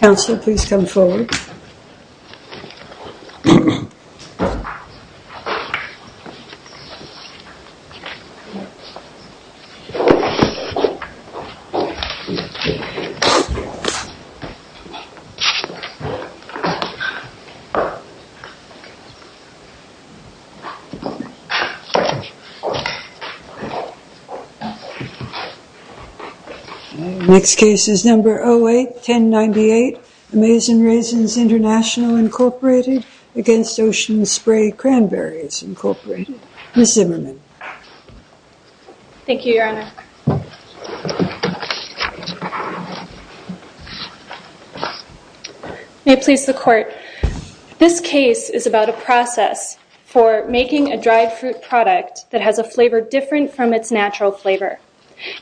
Tylenol 08-1098 Amazin' Raisins International Incorporated against Ocean Spray Cranberries Incorporated Ms. Zimmerman Thank you, Your Honor. May it please the Court, this case is about a process for making a dried fruit product that has a flavor different from its natural flavor.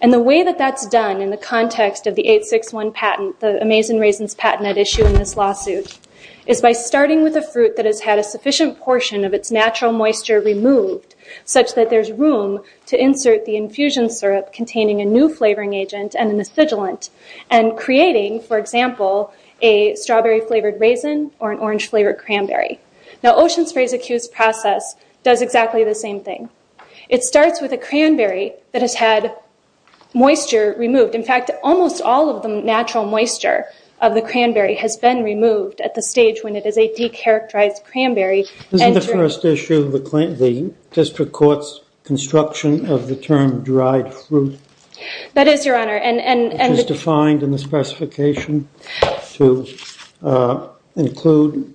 And the way that that's done in the context of the 861 patent, the Amazin' Raisins patent at issue in this lawsuit, is by starting with a fruit that has had a sufficient portion of its natural moisture removed, such that there's room to insert the infusion syrup containing a new flavoring agent and a miscigilant, and creating, for example, a strawberry-flavored raisin or an orange-flavored cranberry. Now Ocean Spray's accused process does exactly the same thing. It starts with a cranberry that has had moisture removed. In fact, almost all of the natural moisture of the cranberry has been removed at the stage when it is a characterized cranberry. Isn't the first issue of the district court's construction of the term dried fruit? That is, Your Honor. Which is defined in the specification to include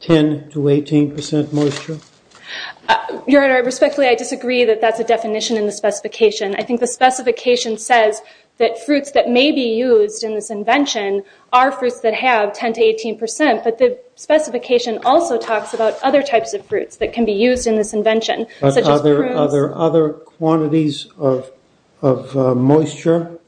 10 to 18 percent moisture? Your Honor, respectfully, I disagree that that's a definition in the specification. I think the specification says that fruits that may be used in this invention are fruits that have 10 to 18 percent, but the specification also talks about other types of fruits that can be used in this invention, such as prunes. Are there other quantities of moisture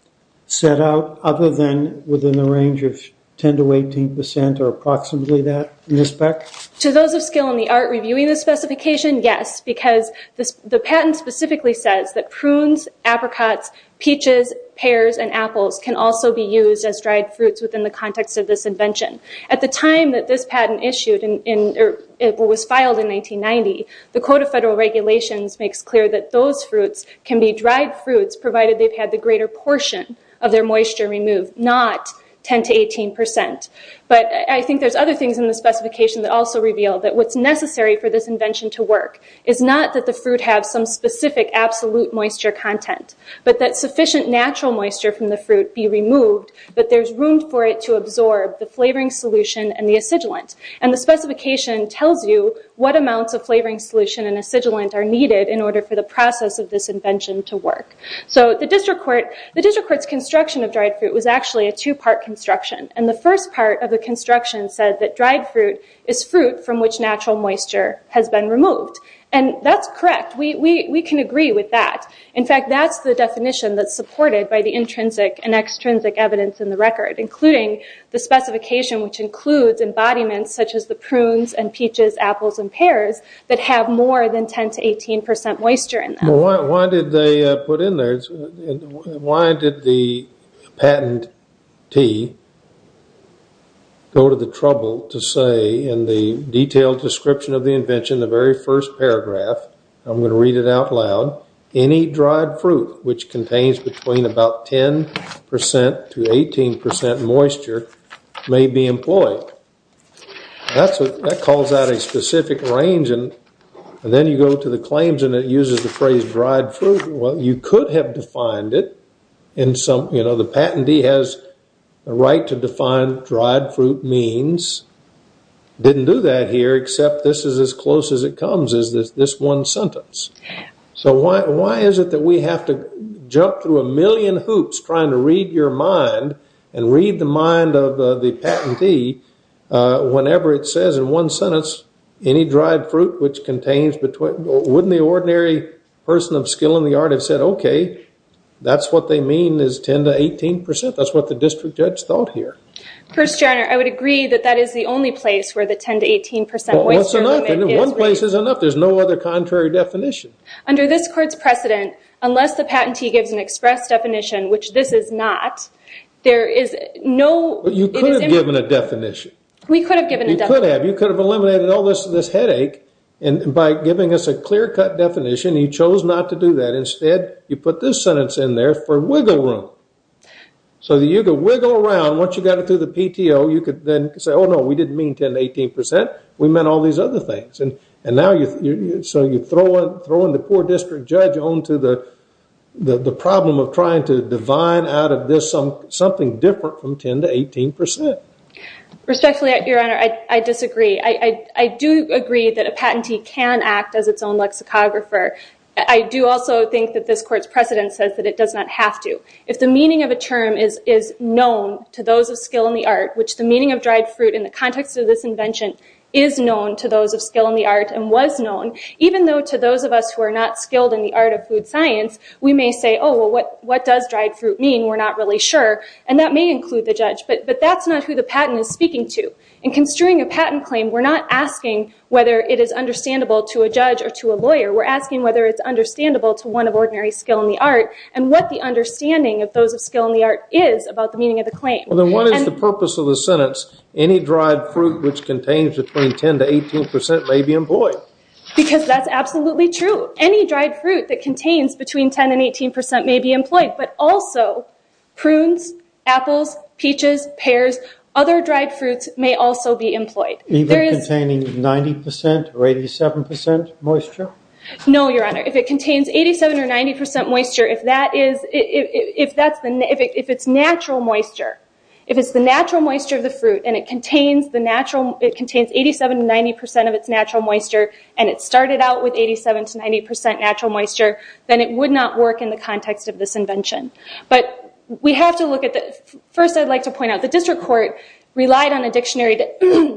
set out other than within the range of 10 to 18 percent, or approximately that, in this spec? To those of skill in the art reviewing the specification, yes, because the patent specifically says that prunes, apricots, peaches, pears, and apples can also be used as dried fruits within the context of this invention. At the time that this patent was filed in 1990, the Code of Federal Regulations makes clear that those fruits can be dried fruits provided they've had the greater portion of their moisture removed, not 10 to 18 percent. But I think there's other things in the specification that also reveal that what's necessary for this invention to work is not that the fruit have some specific absolute moisture content, but that sufficient natural moisture from the fruit be removed, but there's room for it to absorb the flavoring solution and the acidulant. And the specification tells you what amounts of flavoring solution and acidulant are needed in order for the process of this invention to work. So the district court's construction of dried fruit was actually a two-part construction, and the first part of the construction said that dried fruit is fruit from which natural moisture has been removed. And that's correct. We can agree with that. In fact, that's the definition that's supported by the intrinsic and extrinsic evidence in the record, including the specification which includes embodiments such as the prunes and peaches, apples, and pears that have more than 10 to 18 percent moisture in them. Well, why did they put in there, why did the patentee go to the trouble to say in the detailed description of the invention, the very first paragraph, I'm going to read it out loud, any dried fruit which contains between about 10 percent to 18 percent moisture may be employed. That calls out a specific range, and then you go to the claims and it uses the phrase dried fruit. Well, you could have defined it in some, you know, the patentee has the right to define dried fruit means, didn't do that here except this is as close as it comes is this one sentence. So why is it that we have to jump through a million hoops trying to read your mind and read the mind of the patentee whenever it says in one sentence, any dried fruit which contains between, wouldn't the ordinary person of skill in the art have said, okay, that's what they mean is 10 to 18 percent. That's what the district judge thought here. First, John, I would agree that that is the only place where the 10 to 18 percent moisture limit is. One place is enough. There is no other contrary definition. Under this court's precedent, unless the patentee gives an express definition, which this is not, there is no, you could have given a definition. We could have given a definition. You could have. You could have eliminated all this headache and by giving us a clear cut definition, you chose not to do that. Instead, you put this sentence in there for wiggle room. So you could wiggle around, once you got it through the PTO, you could then say, oh, no, we didn't mean 10 to 18 percent. We meant all these other things. And now, so you throw in the poor district judge on to the problem of trying to divine out of this something different from 10 to 18 percent. Respectfully, Your Honor, I disagree. I do agree that a patentee can act as its own lexicographer. I do also think that this court's precedent says that it does not have to. If the meaning of a term is known to those of skill in the art, which the meaning of skill in the art and was known, even though to those of us who are not skilled in the art of food science, we may say, oh, well, what does dried fruit mean? We're not really sure. And that may include the judge, but that's not who the patent is speaking to. In construing a patent claim, we're not asking whether it is understandable to a judge or to a lawyer. We're asking whether it's understandable to one of ordinary skill in the art and what the understanding of those of skill in the art is about the meaning of the claim. Well, then, what is the purpose of the sentence, any dried fruit which contains between 10 to 18 percent may be employed? Because that's absolutely true. Any dried fruit that contains between 10 and 18 percent may be employed. But also prunes, apples, peaches, pears, other dried fruits may also be employed. Even containing 90 percent or 87 percent moisture? No, Your Honor. If it contains 87 or 90 percent moisture, if it's natural moisture, if it's the natural moisture of the fruit and it contains 87 to 90 percent of its natural moisture and it started out with 87 to 90 percent natural moisture, then it would not work in the context of this invention. But we have to look at the... First I'd like to point out, the district court relied on a dictionary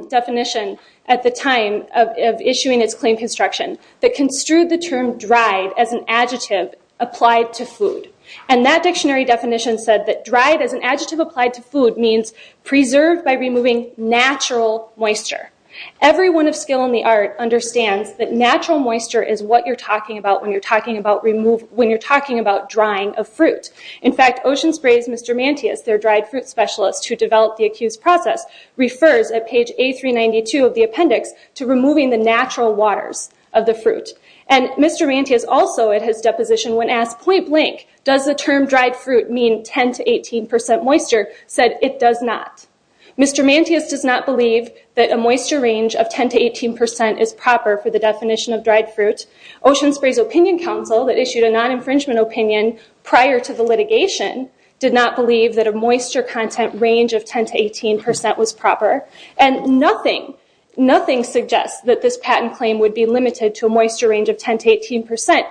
definition at the time of issuing its claim construction that construed the term dried as an adjective applied to food. And that dictionary definition said that dried as an adjective applied to food means preserved by removing natural moisture. Everyone of skill in the art understands that natural moisture is what you're talking about when you're talking about drying a fruit. In fact, Ocean Spray's Mr. Mantious, their dried fruit specialist who developed the accused process, refers at page A392 of the appendix to removing the natural waters of the fruit. And Mr. Mantious also at his deposition when asked point blank, does the term dried fruit mean 10 to 18 percent moisture, said it does not. Mr. Mantious does not believe that a moisture range of 10 to 18 percent is proper for the definition of dried fruit. Ocean Spray's opinion council that issued a non-infringement opinion prior to the litigation did not believe that a moisture content range of 10 to 18 percent was proper. And nothing, nothing suggests that this patent claim would be limited to a moisture range of 10 to 18 percent.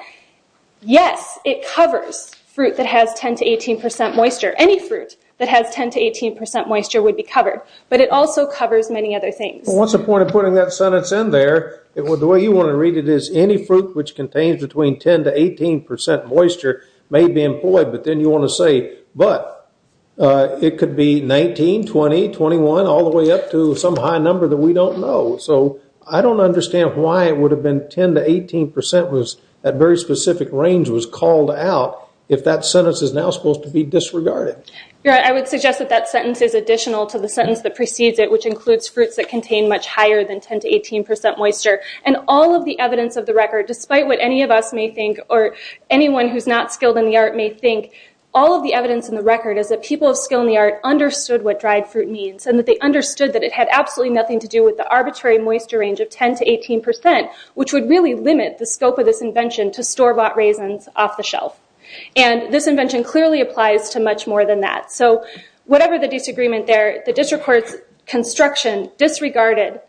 Yes, it covers fruit that has 10 to 18 percent moisture. Any fruit that has 10 to 18 percent moisture would be covered. But it also covers many other things. What's the point of putting that sentence in there? The way you want to read it is any fruit which contains between 10 to 18 percent moisture may be employed, but then you want to say, but it could be 19, 20, 21, all the way up to some high number that we don't know. So I don't understand why it would have been 10 to 18 percent was at very specific range was called out if that sentence is now supposed to be disregarded. I would suggest that that sentence is additional to the sentence that precedes it, which includes fruits that contain much higher than 10 to 18 percent moisture. And all of the evidence of the record, despite what any of us may think or anyone who's not skilled in the art may think, all of the evidence in the record is that people of skill in the art understood what dried fruit means and that they understood that it had absolutely nothing to do with the arbitrary moisture range of 10 to 18 percent, which would really limit the scope of this invention to store-bought raisins off the shelf. And this invention clearly applies to much more than that. So whatever the disagreement there, the district court's construction disregarded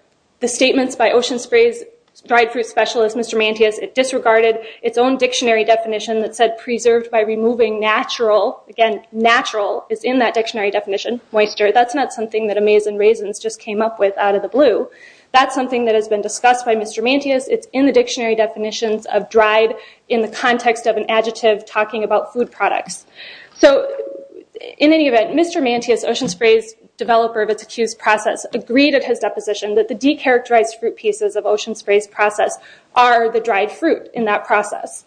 the statements by Ocean Spray's dried fruit specialist, Mr. Mantius. It disregarded its own dictionary definition that said preserved by removing natural, again natural is in that dictionary definition, moisture. That's not something that Amaze and Raisins just came up with out of the blue. That's something that has been discussed by Mr. Mantius. It's in the dictionary definitions of dried in the context of an adjective talking about food products. So in any event, Mr. Mantius, Ocean Spray's developer of its accused process, agreed at his deposition that the de-characterized fruit pieces of Ocean Spray's process are the dried fruit in that process.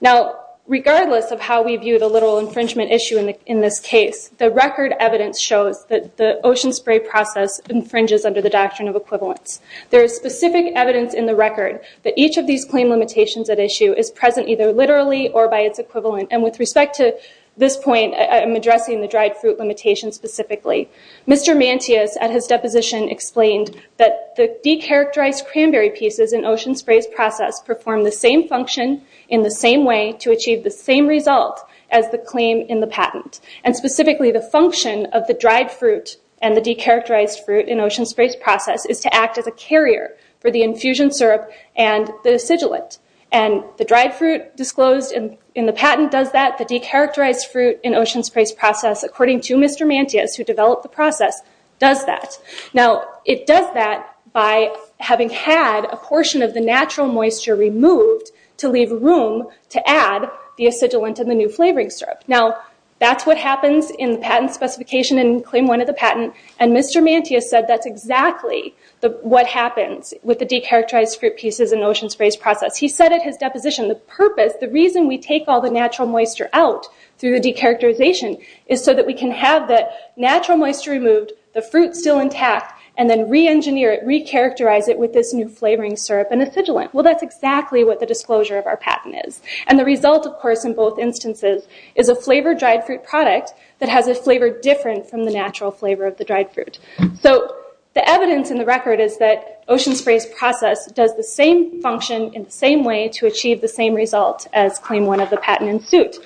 Now regardless of how we view the literal infringement issue in this case, the record evidence shows that the Ocean Spray process infringes under the doctrine of equivalence. There is specific evidence in the record that each of these claim limitations at issue is present either literally or by its equivalent. And with respect to this point, I'm addressing the dried fruit limitation specifically. Mr. Mantius at his deposition explained that the de-characterized cranberry pieces in Ocean Spray's process do the same function in the same way to achieve the same result as the claim in the patent. And specifically the function of the dried fruit and the de-characterized fruit in Ocean Spray's process is to act as a carrier for the infusion syrup and the sigillate. And the dried fruit disclosed in the patent does that. The de-characterized fruit in Ocean Spray's process, according to Mr. Mantius who developed the process, does that. Now it does that by having had a portion of the natural moisture removed to leave room to add the sigillate and the new flavoring syrup. Now that's what happens in the patent specification in claim one of the patent. And Mr. Mantius said that's exactly what happens with the de-characterized fruit pieces in Ocean Spray's process. He said at his deposition, the purpose, the reason we take all the natural moisture out through the de-characterization is so that we can have the natural moisture removed, the fruit still intact, and then re-engineer it, re-characterize it with this new flavoring syrup and a sigillate. Well that's exactly what the disclosure of our patent is. And the result of course in both instances is a flavored dried fruit product that has a flavor different from the natural flavor of the dried fruit. So the evidence in the record is that Ocean Spray's process does the same function in the same way to achieve the same result as claim one of the patent in suit.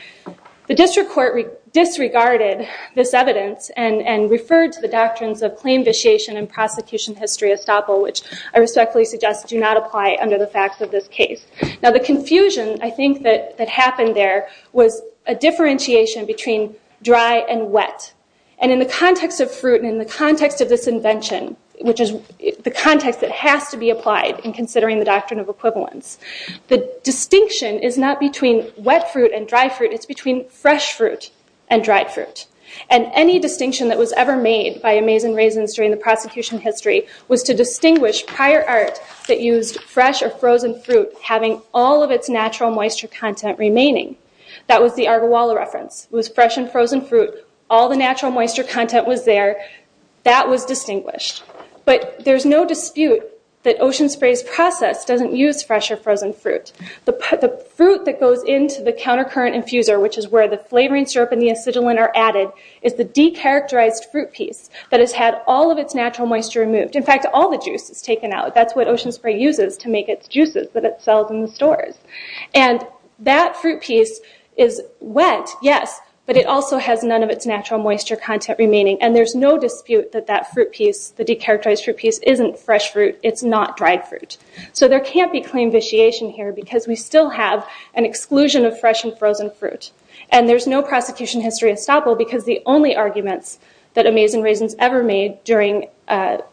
The district court disregarded this evidence and referred to the doctrines of claim vitiation and prosecution history estoppel which I respectfully suggest do not apply under the facts of this case. Now the confusion I think that happened there was a differentiation between dry and wet. And in the context of fruit and in the context of this invention, which is the context that has to be applied in considering the doctrine of equivalence, the distinction is not between wet fruit and dry fruit, it's between fresh fruit and dried fruit. And any distinction that was ever made by Amaze and Raisins during the prosecution history was to distinguish prior art that used fresh or frozen fruit having all of its natural moisture content remaining. That was the Argawalla reference. It was fresh and frozen fruit, all the natural moisture content was there, that was distinguished. But there's no dispute that Ocean Spray's process doesn't use fresh or frozen fruit. The fruit that goes into the counter current infuser, which is where the flavoring syrup and the acetylene are added, is the de-characterized fruit piece that has had all of its natural moisture removed. In fact, all the juice is taken out. That's what Ocean Spray uses to make its juices that it sells in the stores. And that fruit piece is wet, yes, but it also has none of its natural moisture content remaining. And there's no dispute that that fruit piece, the de-characterized fruit piece, isn't fresh fruit, it's not dried fruit. So there can't be claim vitiation here because we still have an exclusion of fresh and frozen fruit. And there's no prosecution history estoppel because the only arguments that Amazin' Raisins ever made during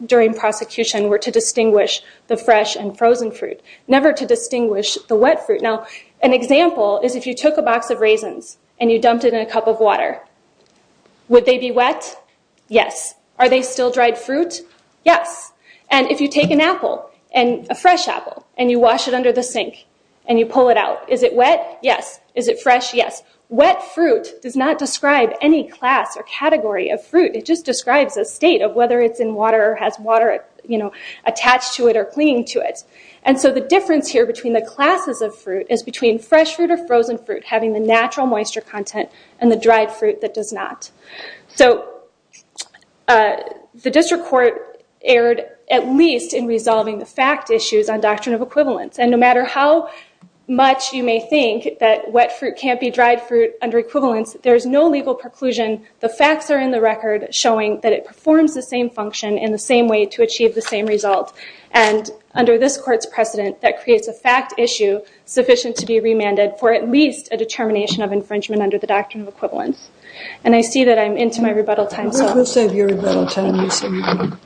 prosecution were to distinguish the fresh and frozen fruit, never to distinguish the wet fruit. Now, an example is if you took a box of raisins and you dumped it in a cup of water, would they be wet? Yes. Are they still dried fruit? Yes. And if you take an apple, a fresh apple, and you wash it under the sink and you pull it out, is it wet? Yes. Is it fresh? Yes. Wet fruit does not describe any class or category of fruit, it just describes a state of whether it's in water or has water attached to it or clinging to it. And so the difference here between the classes of fruit is between fresh fruit or frozen fruit having the natural moisture content and the dried fruit that does not. So the district court erred at least in resolving the fact issues on doctrine of equivalence. And no matter how much you may think that wet fruit can't be dried fruit under equivalence, there's no legal preclusion. The facts are in the record showing that it performs the same function in the same way to achieve the same result. And under this court's precedent, that creates a fact issue sufficient to be remanded for at least a determination of infringement under the doctrine of equivalence. And I see that I'm into my rebuttal time, so I will save your rebuttal time, Mr. Snow.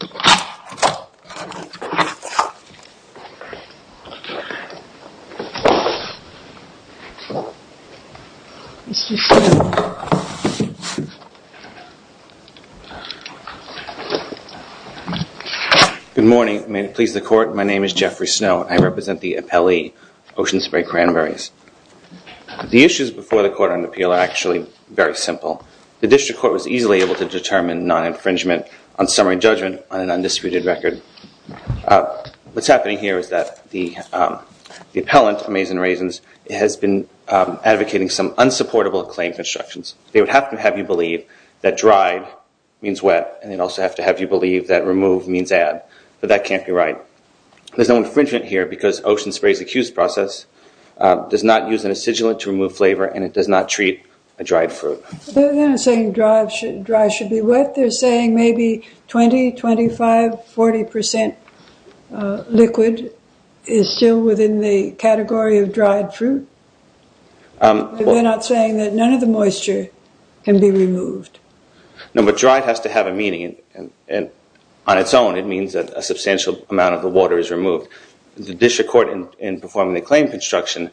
Good morning. May it please the court. My name is Jeffrey Snow. I represent the appellee, Ocean Spray Cranberries. The issues before the court on appeal are actually very simple. The district court was easily able to determine non-infringement on summary judgment on an undisputed record. What's happening here is that the appellant, Amazon Raisins, has been advocating some unsupportable claim constructions. They would have to have you believe that dried means wet, and they'd also have to have you believe that removed means add, but that can't be right. There's no infringement here because Ocean Spray's accused process does not use an acidulant to remove flavor, and it does not treat a dried fruit. They're not saying dried should be wet. They're saying maybe 20, 25, 40% liquid is still within the category of dried fruit. They're not saying that none of the moisture can be removed. No, but dried has to have a meaning. On its own, it means that a substantial amount of the water is removed. The district court in performing the claim construction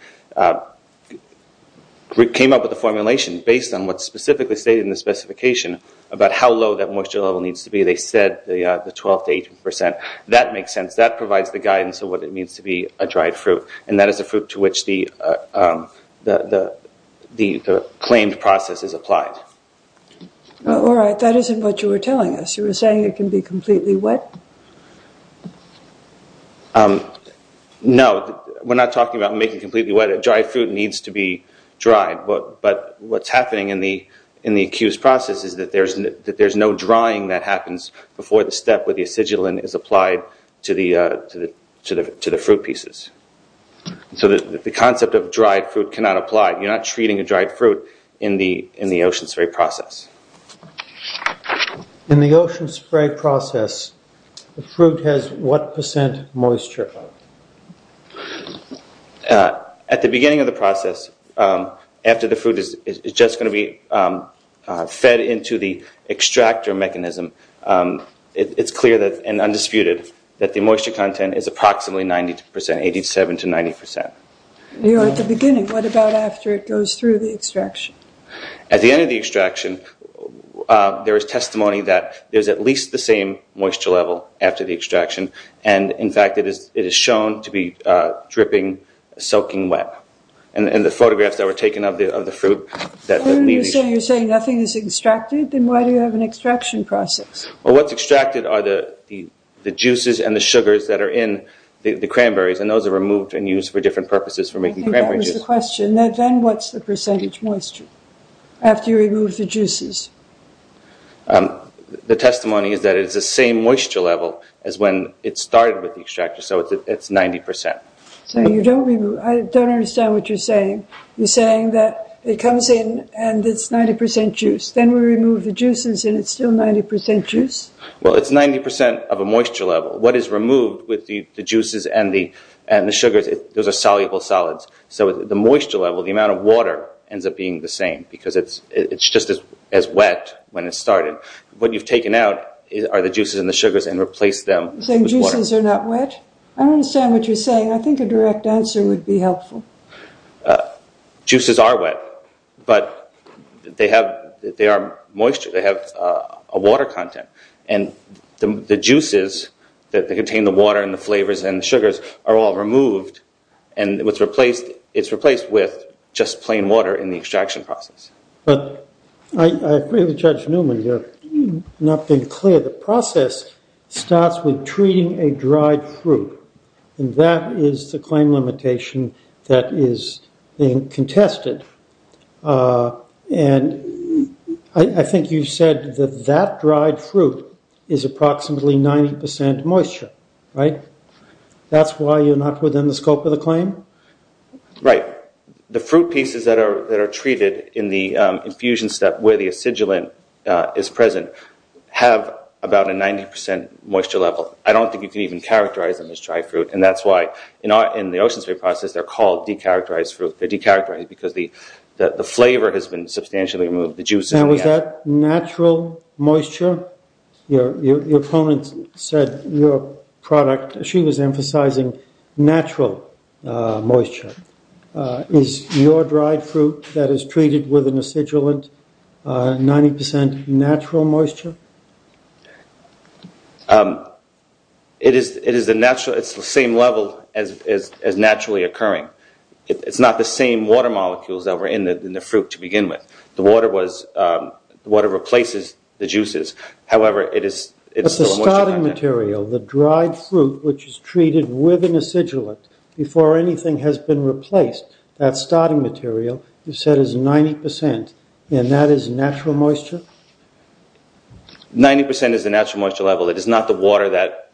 came up with a formulation based on what's specifically stated in the specification about how low that moisture level needs to be. They said the 12 to 18%. That makes sense. That provides the guidance of what it means to be a dried fruit, and that is a fruit to which the claimed process is applied. All right, that isn't what you were telling us. You were saying it can be completely wet? No, we're not talking about making completely wet. Dried fruit needs to be dried, but what's happening in the accused process is that there's no drying that happens before the step where the acidulant is applied to the fruit pieces. The concept of dried fruit cannot apply. You're not treating a dried fruit in the ocean spray process. In the ocean spray process, the fruit has what percent moisture? At the beginning of the process, after the fruit is just going to be fed into the extractor mechanism, it's clear and undisputed that the moisture content is approximately 92%, 87 to 90%. At the beginning, what about after it goes through the extraction? At the end of the extraction, there is testimony that there's at least the same moisture level after the extraction. In fact, it is shown to be dripping, soaking wet. The photographs that were taken of the fruit- You're saying nothing is extracted, then why do you have an extraction process? What's extracted are the juices and the sugars that are in the cranberries, and those are removed and used for different purposes for making cranberries. I think that was the question. Then what's the percentage moisture after you remove the juices? The testimony is that it is the same moisture level as when it started with the extractor, so it's 90%. I don't understand what you're saying. You're saying that it comes in and it's 90% juice, then we remove the juices and it's still 90% juice? Well, it's 90% of a moisture level. What is removed with the juices and the sugars, those are soluble solids. The moisture level, the amount of water ends up being the same because it's just as wet when it started. What you've taken out are the juices and the sugars and replaced them with water. You're saying juices are not wet? I don't understand what you're saying. I think a direct answer would be helpful. Juices are wet, but they are moisture. They have a water content, and the juices that contain the water and the flavors and sugars are all removed, and it's replaced with just plain water in the extraction process. I agree with Judge Newman. You're not being clear. The process starts with treating a dried fruit. That is the claim limitation that is being contested. I think you said that that dried fruit is approximately 90% moisture. Right? That's why you're not within the scope of the claim? Right. The fruit pieces that are treated in the infusion step where the acidulant is present have about a 90% moisture level. I don't think you can even characterize them as dried fruit, and that's why in the ocean spray process they're called decharacterized fruit. They're decharacterized because the flavor has been substantially removed, the juices. Was that natural moisture? Your opponent said your product, she was emphasizing natural moisture. Is your dried fruit that is treated with an acidulant 90% natural moisture? It is the same level as naturally occurring. It's not the same water molecules that were in the fruit to begin with. The water replaces the juices. However, it is still a moisture content. But the starting material, the dried fruit which is treated with an acidulant before anything has been replaced, that starting material you said is 90%, and that is natural moisture? 90% is the natural moisture level. It is not the water that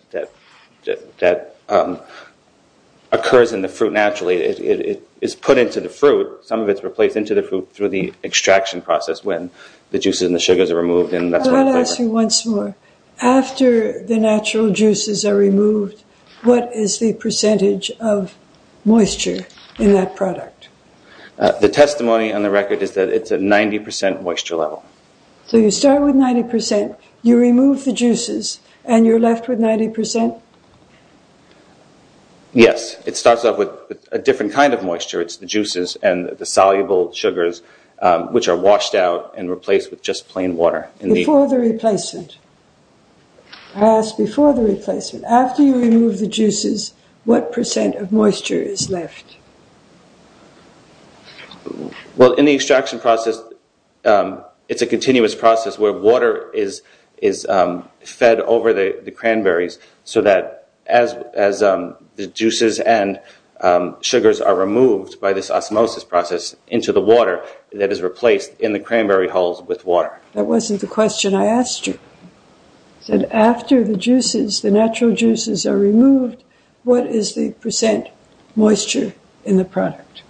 occurs in the fruit naturally. It is put into the fruit. Some of it is replaced into the fruit through the extraction process when the juices and the sugars are removed, and that's why the flavor. I'll ask you once more. After the natural juices are removed, what is the percentage of moisture in that product? The testimony on the record is that it's a 90% moisture level. So you start with 90%, you remove the juices, and you're left with 90%? Yes. It starts off with a different kind of moisture. It's the juices and the soluble sugars which are washed out and replaced with just plain water. Before the replacement, I ask before the replacement, after you remove the juices, what percent of moisture is left? Well, in the extraction process, it's a continuous process where water is fed over the cranberries so that as the juices and sugars are removed by this osmosis process into the water, that is replaced in the cranberry hulls with water. That wasn't the question I asked you. I said after the juices, the natural juices are removed, what is the percent moisture in the product?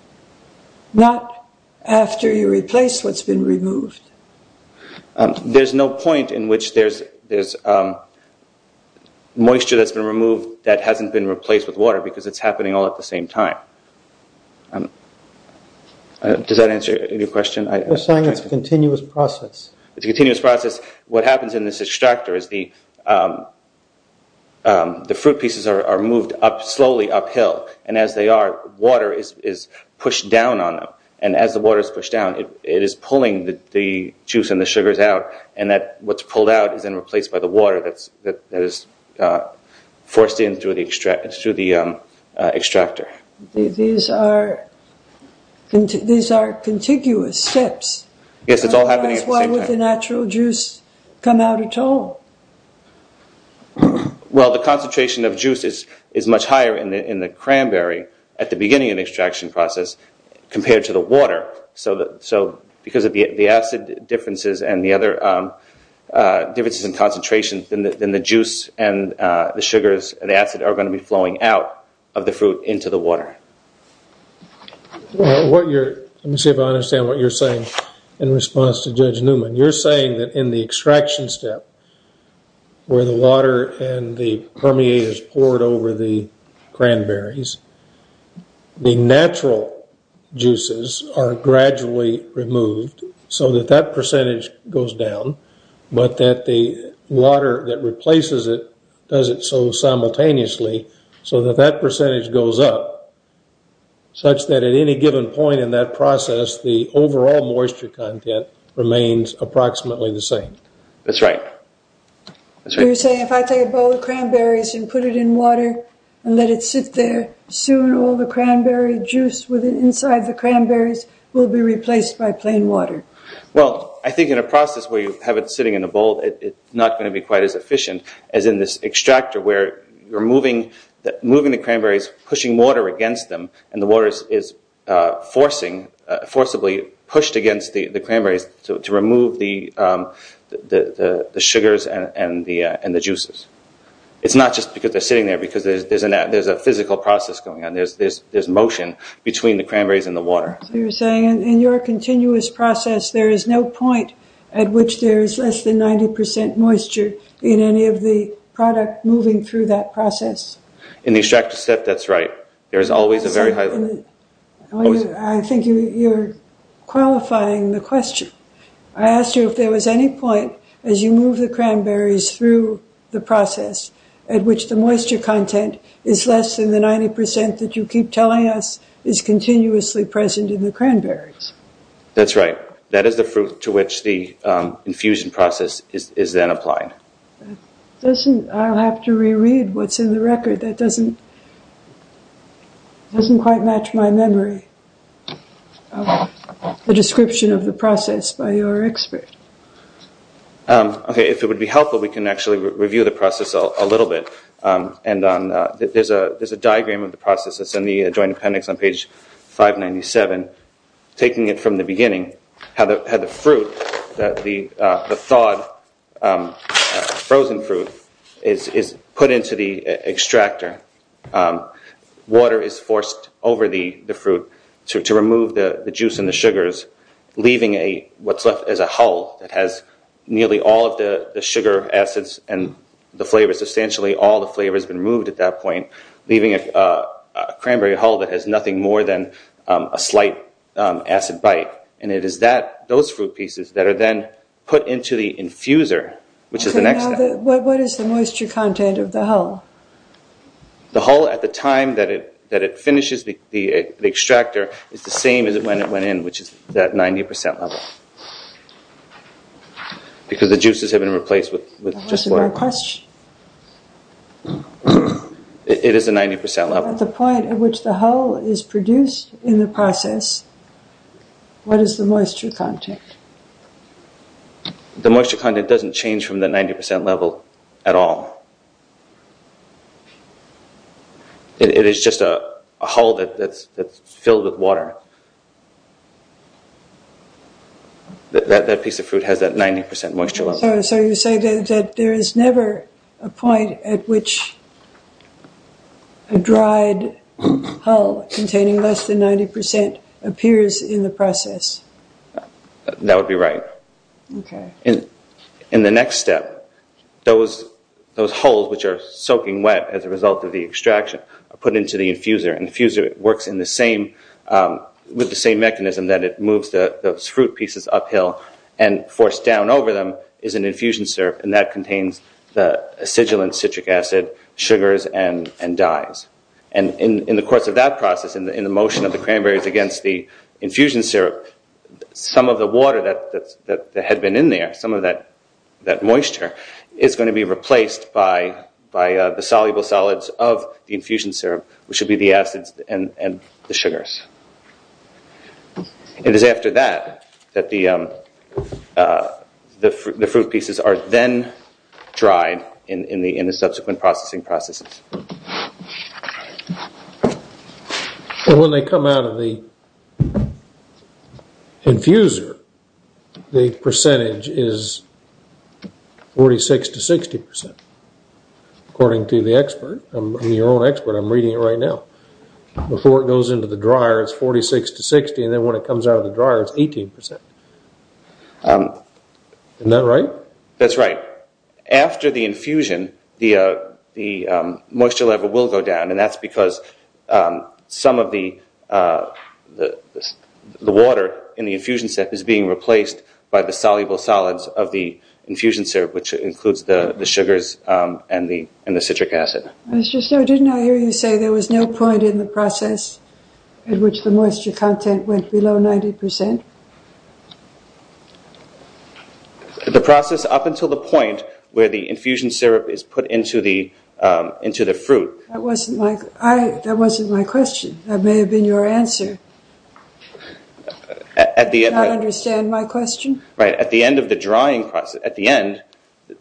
Not after you replace what's been removed. There's no point in which there's moisture that's been removed that hasn't been replaced with water because it's happening all at the same time. Does that answer your question? You're saying it's a continuous process. It's a continuous process. What happens in this extractor is the fruit pieces are moved up slowly uphill. As they are, water is pushed down on them. As the water is pushed down, it is pulling the juice and the sugars out. What's pulled out is then replaced by the water that is forced in through the extractor. These are contiguous steps. Yes, it's all happening at the same time. Why can't the natural juice come out at all? The concentration of juice is much higher in the cranberry at the beginning of the extraction process compared to the water. Because of the acid differences and the other differences in concentration, then the juice and the sugars and the acid are going to be flowing out of the fruit into the water. Let me see if I understand what you're saying in response to Judge Newman. You're saying that in the extraction step where the water and the permeate is poured over the cranberries, the natural juices are gradually removed so that that percentage goes down but that the water that replaces it does it so simultaneously so that that at any given point in that process, the overall moisture content remains approximately the same. That's right. You're saying if I take a bowl of cranberries and put it in water and let it sit there, soon all the cranberry juice inside the cranberries will be replaced by plain water. Well, I think in a process where you have it sitting in a bowl, it's not going to be quite as efficient as in this extractor where you're moving the cranberries, pushing water against them and the water is forcibly pushed against the cranberries to remove the sugars and the juices. It's not just because they're sitting there because there's a physical process going on. There's motion between the cranberries and the water. You're saying in your continuous process, there is no point at which there is less than 90% moisture in any of the product moving through that process? In the extractor step, that's right. There is always a very high... I think you're qualifying the question. I asked you if there was any point as you move the cranberries through the process at which the moisture content is less than the 90% that you keep telling us is continuously present in the cranberries. That's right. That is the fruit to which the infusion process is then applied. I'll have to reread what's in the record. That doesn't quite match my memory of the description of the process by your expert. Okay. If it would be helpful, we can actually review the process a little bit. There's a diagram of the process that's in the Joint Appendix on page 597. Taking it from the beginning, how the fruit, the thawed frozen fruit, is put into the extractor. Water is forced over the fruit to remove the juice and the sugars, leaving what's left as a hull that has nearly all of the sugar acids and the flavors. Substantially, all the flavors have been removed at that point, leaving a cranberry hull that has been a slight acid bite. It is those fruit pieces that are then put into the infuser, which is the next step. What is the moisture content of the hull? The hull at the time that it finishes the extractor is the same as when it went in, which is that 90% level, because the juices have been replaced with just water. That wasn't my question. It is a 90% level. At the point at which the hull is produced in the process, what is the moisture content? The moisture content doesn't change from the 90% level at all. It is just a hull that's filled with water. That piece of fruit has that 90% moisture level. You say that there is never a point at which a dried hull containing less than 90% appears in the process. That would be right. In the next step, those hulls, which are soaking wet as a result of the extraction, are put into the infuser. The infuser works with the same mechanism that it moves those fruit pieces uphill and forced down over them is an infusion syrup. That contains the acidulant citric acid, sugars, and dyes. In the course of that process, in the motion of the cranberries against the infusion syrup, some of the water that had been in there, some of that moisture, is going to be replaced by the soluble solids of the infusion syrup, which would be the acids and the sugars. It is after that that the fruit pieces are then dried in the subsequent processing processes. When they come out of the infuser, the percentage is 46 to 60%, according to the expert. I'm your own expert. I'm reading it right now. Before it goes into the dryer, it's 46 to 60%. Then when it comes out of the dryer, it's 18%. Isn't that right? That's right. After the infusion, the moisture level will go down. That's because some of the water in the infusion step is being replaced by the soluble solids of the infusion syrup, which includes the sugars and the citric acid. Didn't I hear you say there was no point in the process at which the moisture content went below 90%? The process up until the point where the infusion syrup is put into the fruit. That wasn't my question. That may have been your answer. Do you not understand my question? Right. At the end of the drying process, at the end,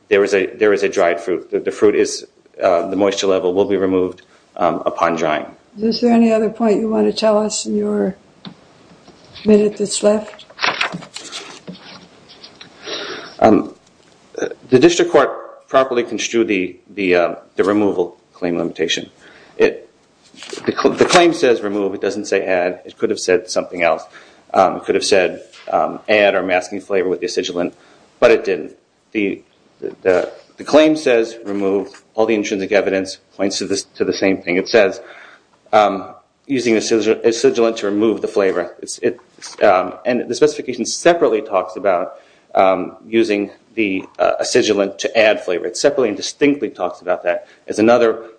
there is a dried fruit. The fruit is the moisture level will be removed upon drying. Is there any other point you want to tell us in your minute that's left? The district court properly construed the removal claim limitation. The claim says remove. It doesn't say add. It could have said something else. It could have said add or masking flavor with the acidulant, but it didn't. The claim says remove. All the intrinsic evidence points to the same thing. It says using acidulant to remove the flavor. The specification separately talks about using the acidulant to add flavor. It separately and distinctly talks about that as another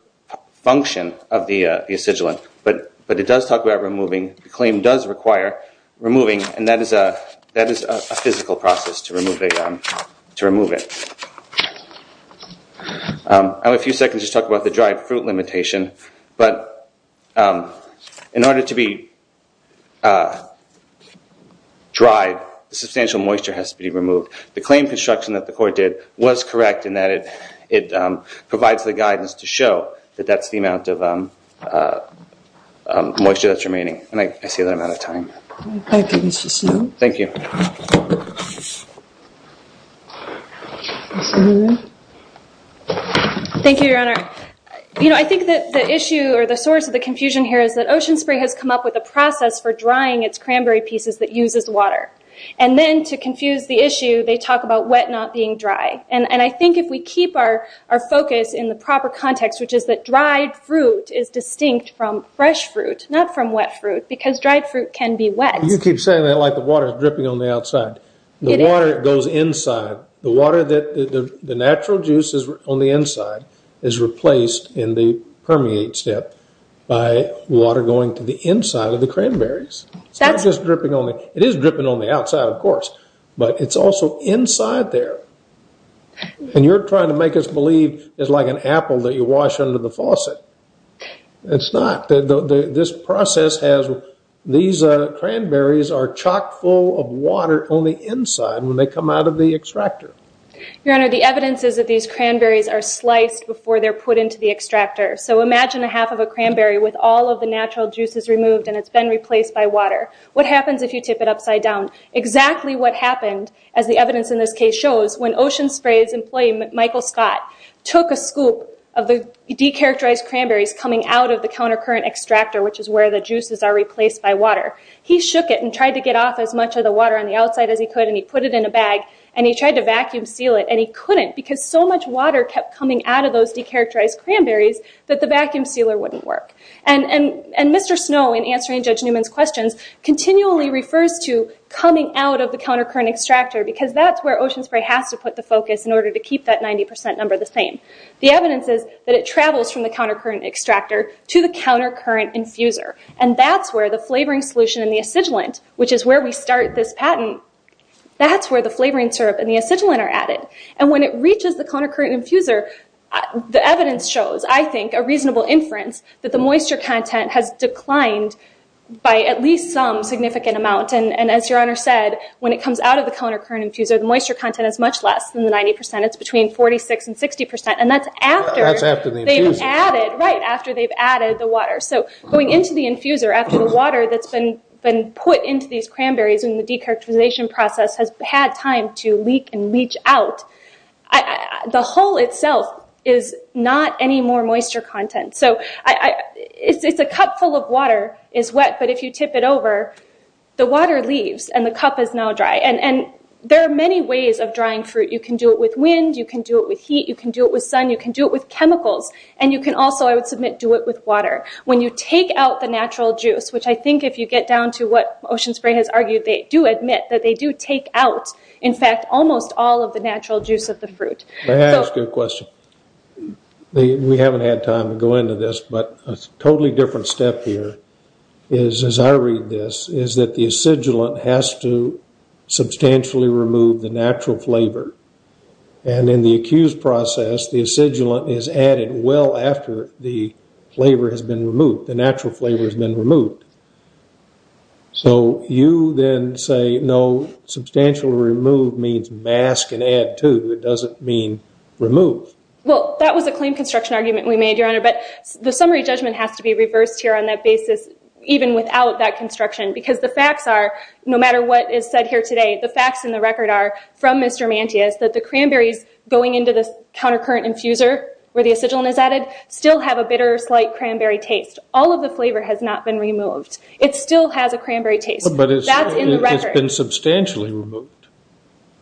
function of the acidulant, but it does talk about removing. The claim does require removing, and that is a physical process to remove it. I have a few seconds to talk about the dried fruit limitation, but in order to be dried, the substantial moisture has to be removed. The claim construction that the court did was correct in that it provides the guidance to show that that's the amount of moisture that's remaining. I see that I'm out of time. Thank you, Mr. Snow. Thank you. Thank you, Your Honor. I think that the issue or the source of the confusion here is that Ocean Spray has come up with a process for drying its cranberry pieces that uses water, and then to confuse the issue, they talk about wet not being dry. I think if we keep our focus in the proper context, which is that dried fruit is distinct from fresh fruit, not from wet fruit, because dried fruit can be wet. You keep saying that like the water is dripping on the outside. The water goes inside. The water that the natural juice is on the inside is replaced in the permeate step by water going to the inside of the cranberries. It's not just dripping on the… It is dripping on the outside, of course, but it's also inside there, and you're trying to make us believe it's like an apple that you wash under the faucet. It's not. This process has… These cranberries are chock full of water on the inside when they come out of the extractor. Your Honor, the evidence is that these cranberries are sliced before they're put into the extractor, so imagine a half of a cranberry with all of the natural juices removed, and it's been replaced by water. What happens if you tip it upside down? Exactly what happened, as the evidence in this case shows, when Ocean Spray's employee, Judge Newman, Michael Scott, took a scoop of the de-characterized cranberries coming out of the counter-current extractor, which is where the juices are replaced by water. He shook it and tried to get off as much of the water on the outside as he could, and he put it in a bag, and he tried to vacuum seal it, and he couldn't because so much water kept coming out of those de-characterized cranberries that the vacuum sealer wouldn't work. Mr. Snow, in answering Judge Newman's questions, continually refers to coming out of the counter-current extractor because that's where Ocean Spray has to put the focus in to get 90% number the same. The evidence is that it travels from the counter-current extractor to the counter-current infuser, and that's where the flavoring solution and the acidulant, which is where we start this patent, that's where the flavoring syrup and the acidulant are added. When it reaches the counter-current infuser, the evidence shows, I think, a reasonable inference that the moisture content has declined by at least some significant amount. As Your Honor said, when it comes out of the counter-current infuser, the moisture content is much less than the 90%. It's between 46% and 60%, and that's after they've added the water. Going into the infuser after the water that's been put into these cranberries in the de-characterization process has had time to leak and leach out. The hull itself is not any more moisture content. It's a cup full of water. It's wet, but if you tip it over, the water leaves, and the cup is now dry. There are many ways of drying fruit. You can do it with wind. You can do it with heat. You can do it with sun. You can do it with chemicals, and you can also, I would submit, do it with water. When you take out the natural juice, which I think if you get down to what Ocean Spray has argued, they do admit that they do take out, in fact, almost all of the natural juice of the fruit. That's a good question. We haven't had time to go into this, but a totally different step here is, as I read this, is that the acidulant has to substantially remove the natural flavor, and in the accused process, the acidulant is added well after the flavor has been removed, the natural flavor has been removed. So, you then say, no, substantially remove means mask and add to. It doesn't mean remove. Well, that was a claim construction argument we made, Your Honor, but the summary judgment has to be reversed here on that basis, even without that construction, because the facts are, no matter what is said here today, the facts in the record are, from Mr. Mantia, is that the cranberries going into the countercurrent infuser, where the acidulant is added, still have a bitter, slight cranberry taste. All of the flavor has not been removed. It still has a cranberry taste. That's in the record. But it's been substantially removed.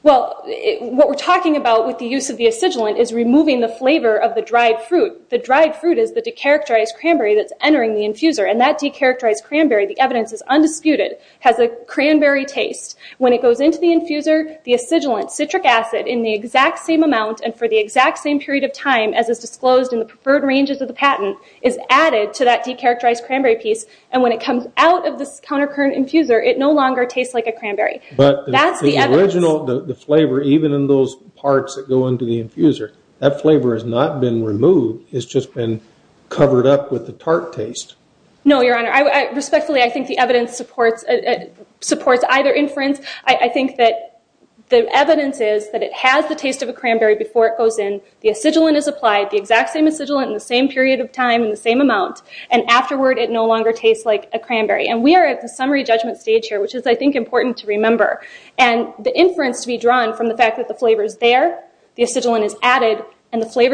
Well, what we're talking about with the use of the acidulant is removing the flavor of the dried fruit. The dried fruit is the de-characterized cranberry that's entering the infuser, and that de-characterized cranberry, the evidence is undisputed, has a cranberry taste. When it goes into the infuser, the acidulant, citric acid, in the exact same amount and for the exact same period of time as is disclosed in the preferred ranges of the patent, is added to that de-characterized cranberry piece, and when it comes out of this countercurrent infuser, it no longer tastes like a cranberry. That's the evidence. But the original flavor, even in those parts that go into the infuser, that flavor has not been removed. It's just been covered up with the tart taste. No, Your Honor. Respectfully, I think the evidence supports either inference. I think that the evidence is that it has the taste of a cranberry before it goes in, the acidulant is applied, the exact same acidulant in the same period of time in the same amount, and afterward, it no longer tastes like a cranberry. And we are at the summary judgment stage here, which is, I think, important to remember. And the inference to be drawn from the fact that the flavor is there, the acidulant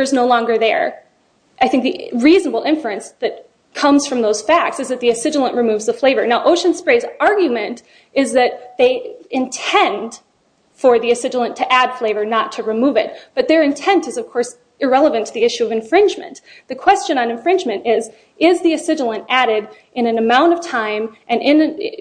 is no longer there, I think the reasonable inference that comes from those facts is that the acidulant removes the flavor. Now, Ocean Spray's argument is that they intend for the acidulant to add flavor, not to remove But their intent is, of course, irrelevant to the issue of infringement. The question on infringement is, is the acidulant added in an amount of time and in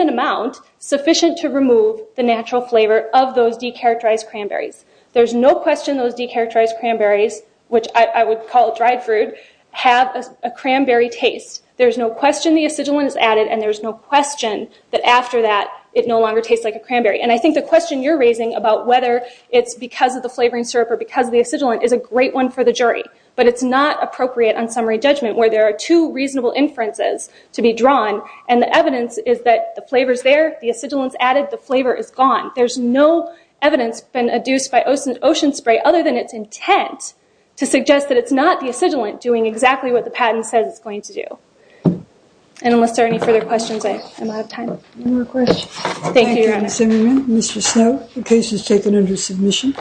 an amount sufficient to remove the natural flavor of those de-characterized cranberries? There's no question those de-characterized cranberries, which I would call dried fruit, have a cranberry taste. There's no question the acidulant is added, and there's no question that after that, it no longer tastes like a cranberry. And I think the question you're raising about whether it's because of the flavoring syrup or because of the acidulant is a great one for the jury. But it's not appropriate on summary judgment, where there are two reasonable inferences to be drawn, and the evidence is that the flavor's there, the acidulant's added, the flavor is gone. There's no evidence been adduced by Ocean Spray other than its intent to suggest that it's not the acidulant doing exactly what the patent says it's going to do. And unless there are any further questions, I'm out of time. Any more questions? Thank you, Your Honor. Thank you, Ms. Zimmerman. Mr. Snow, the case is taken under submission.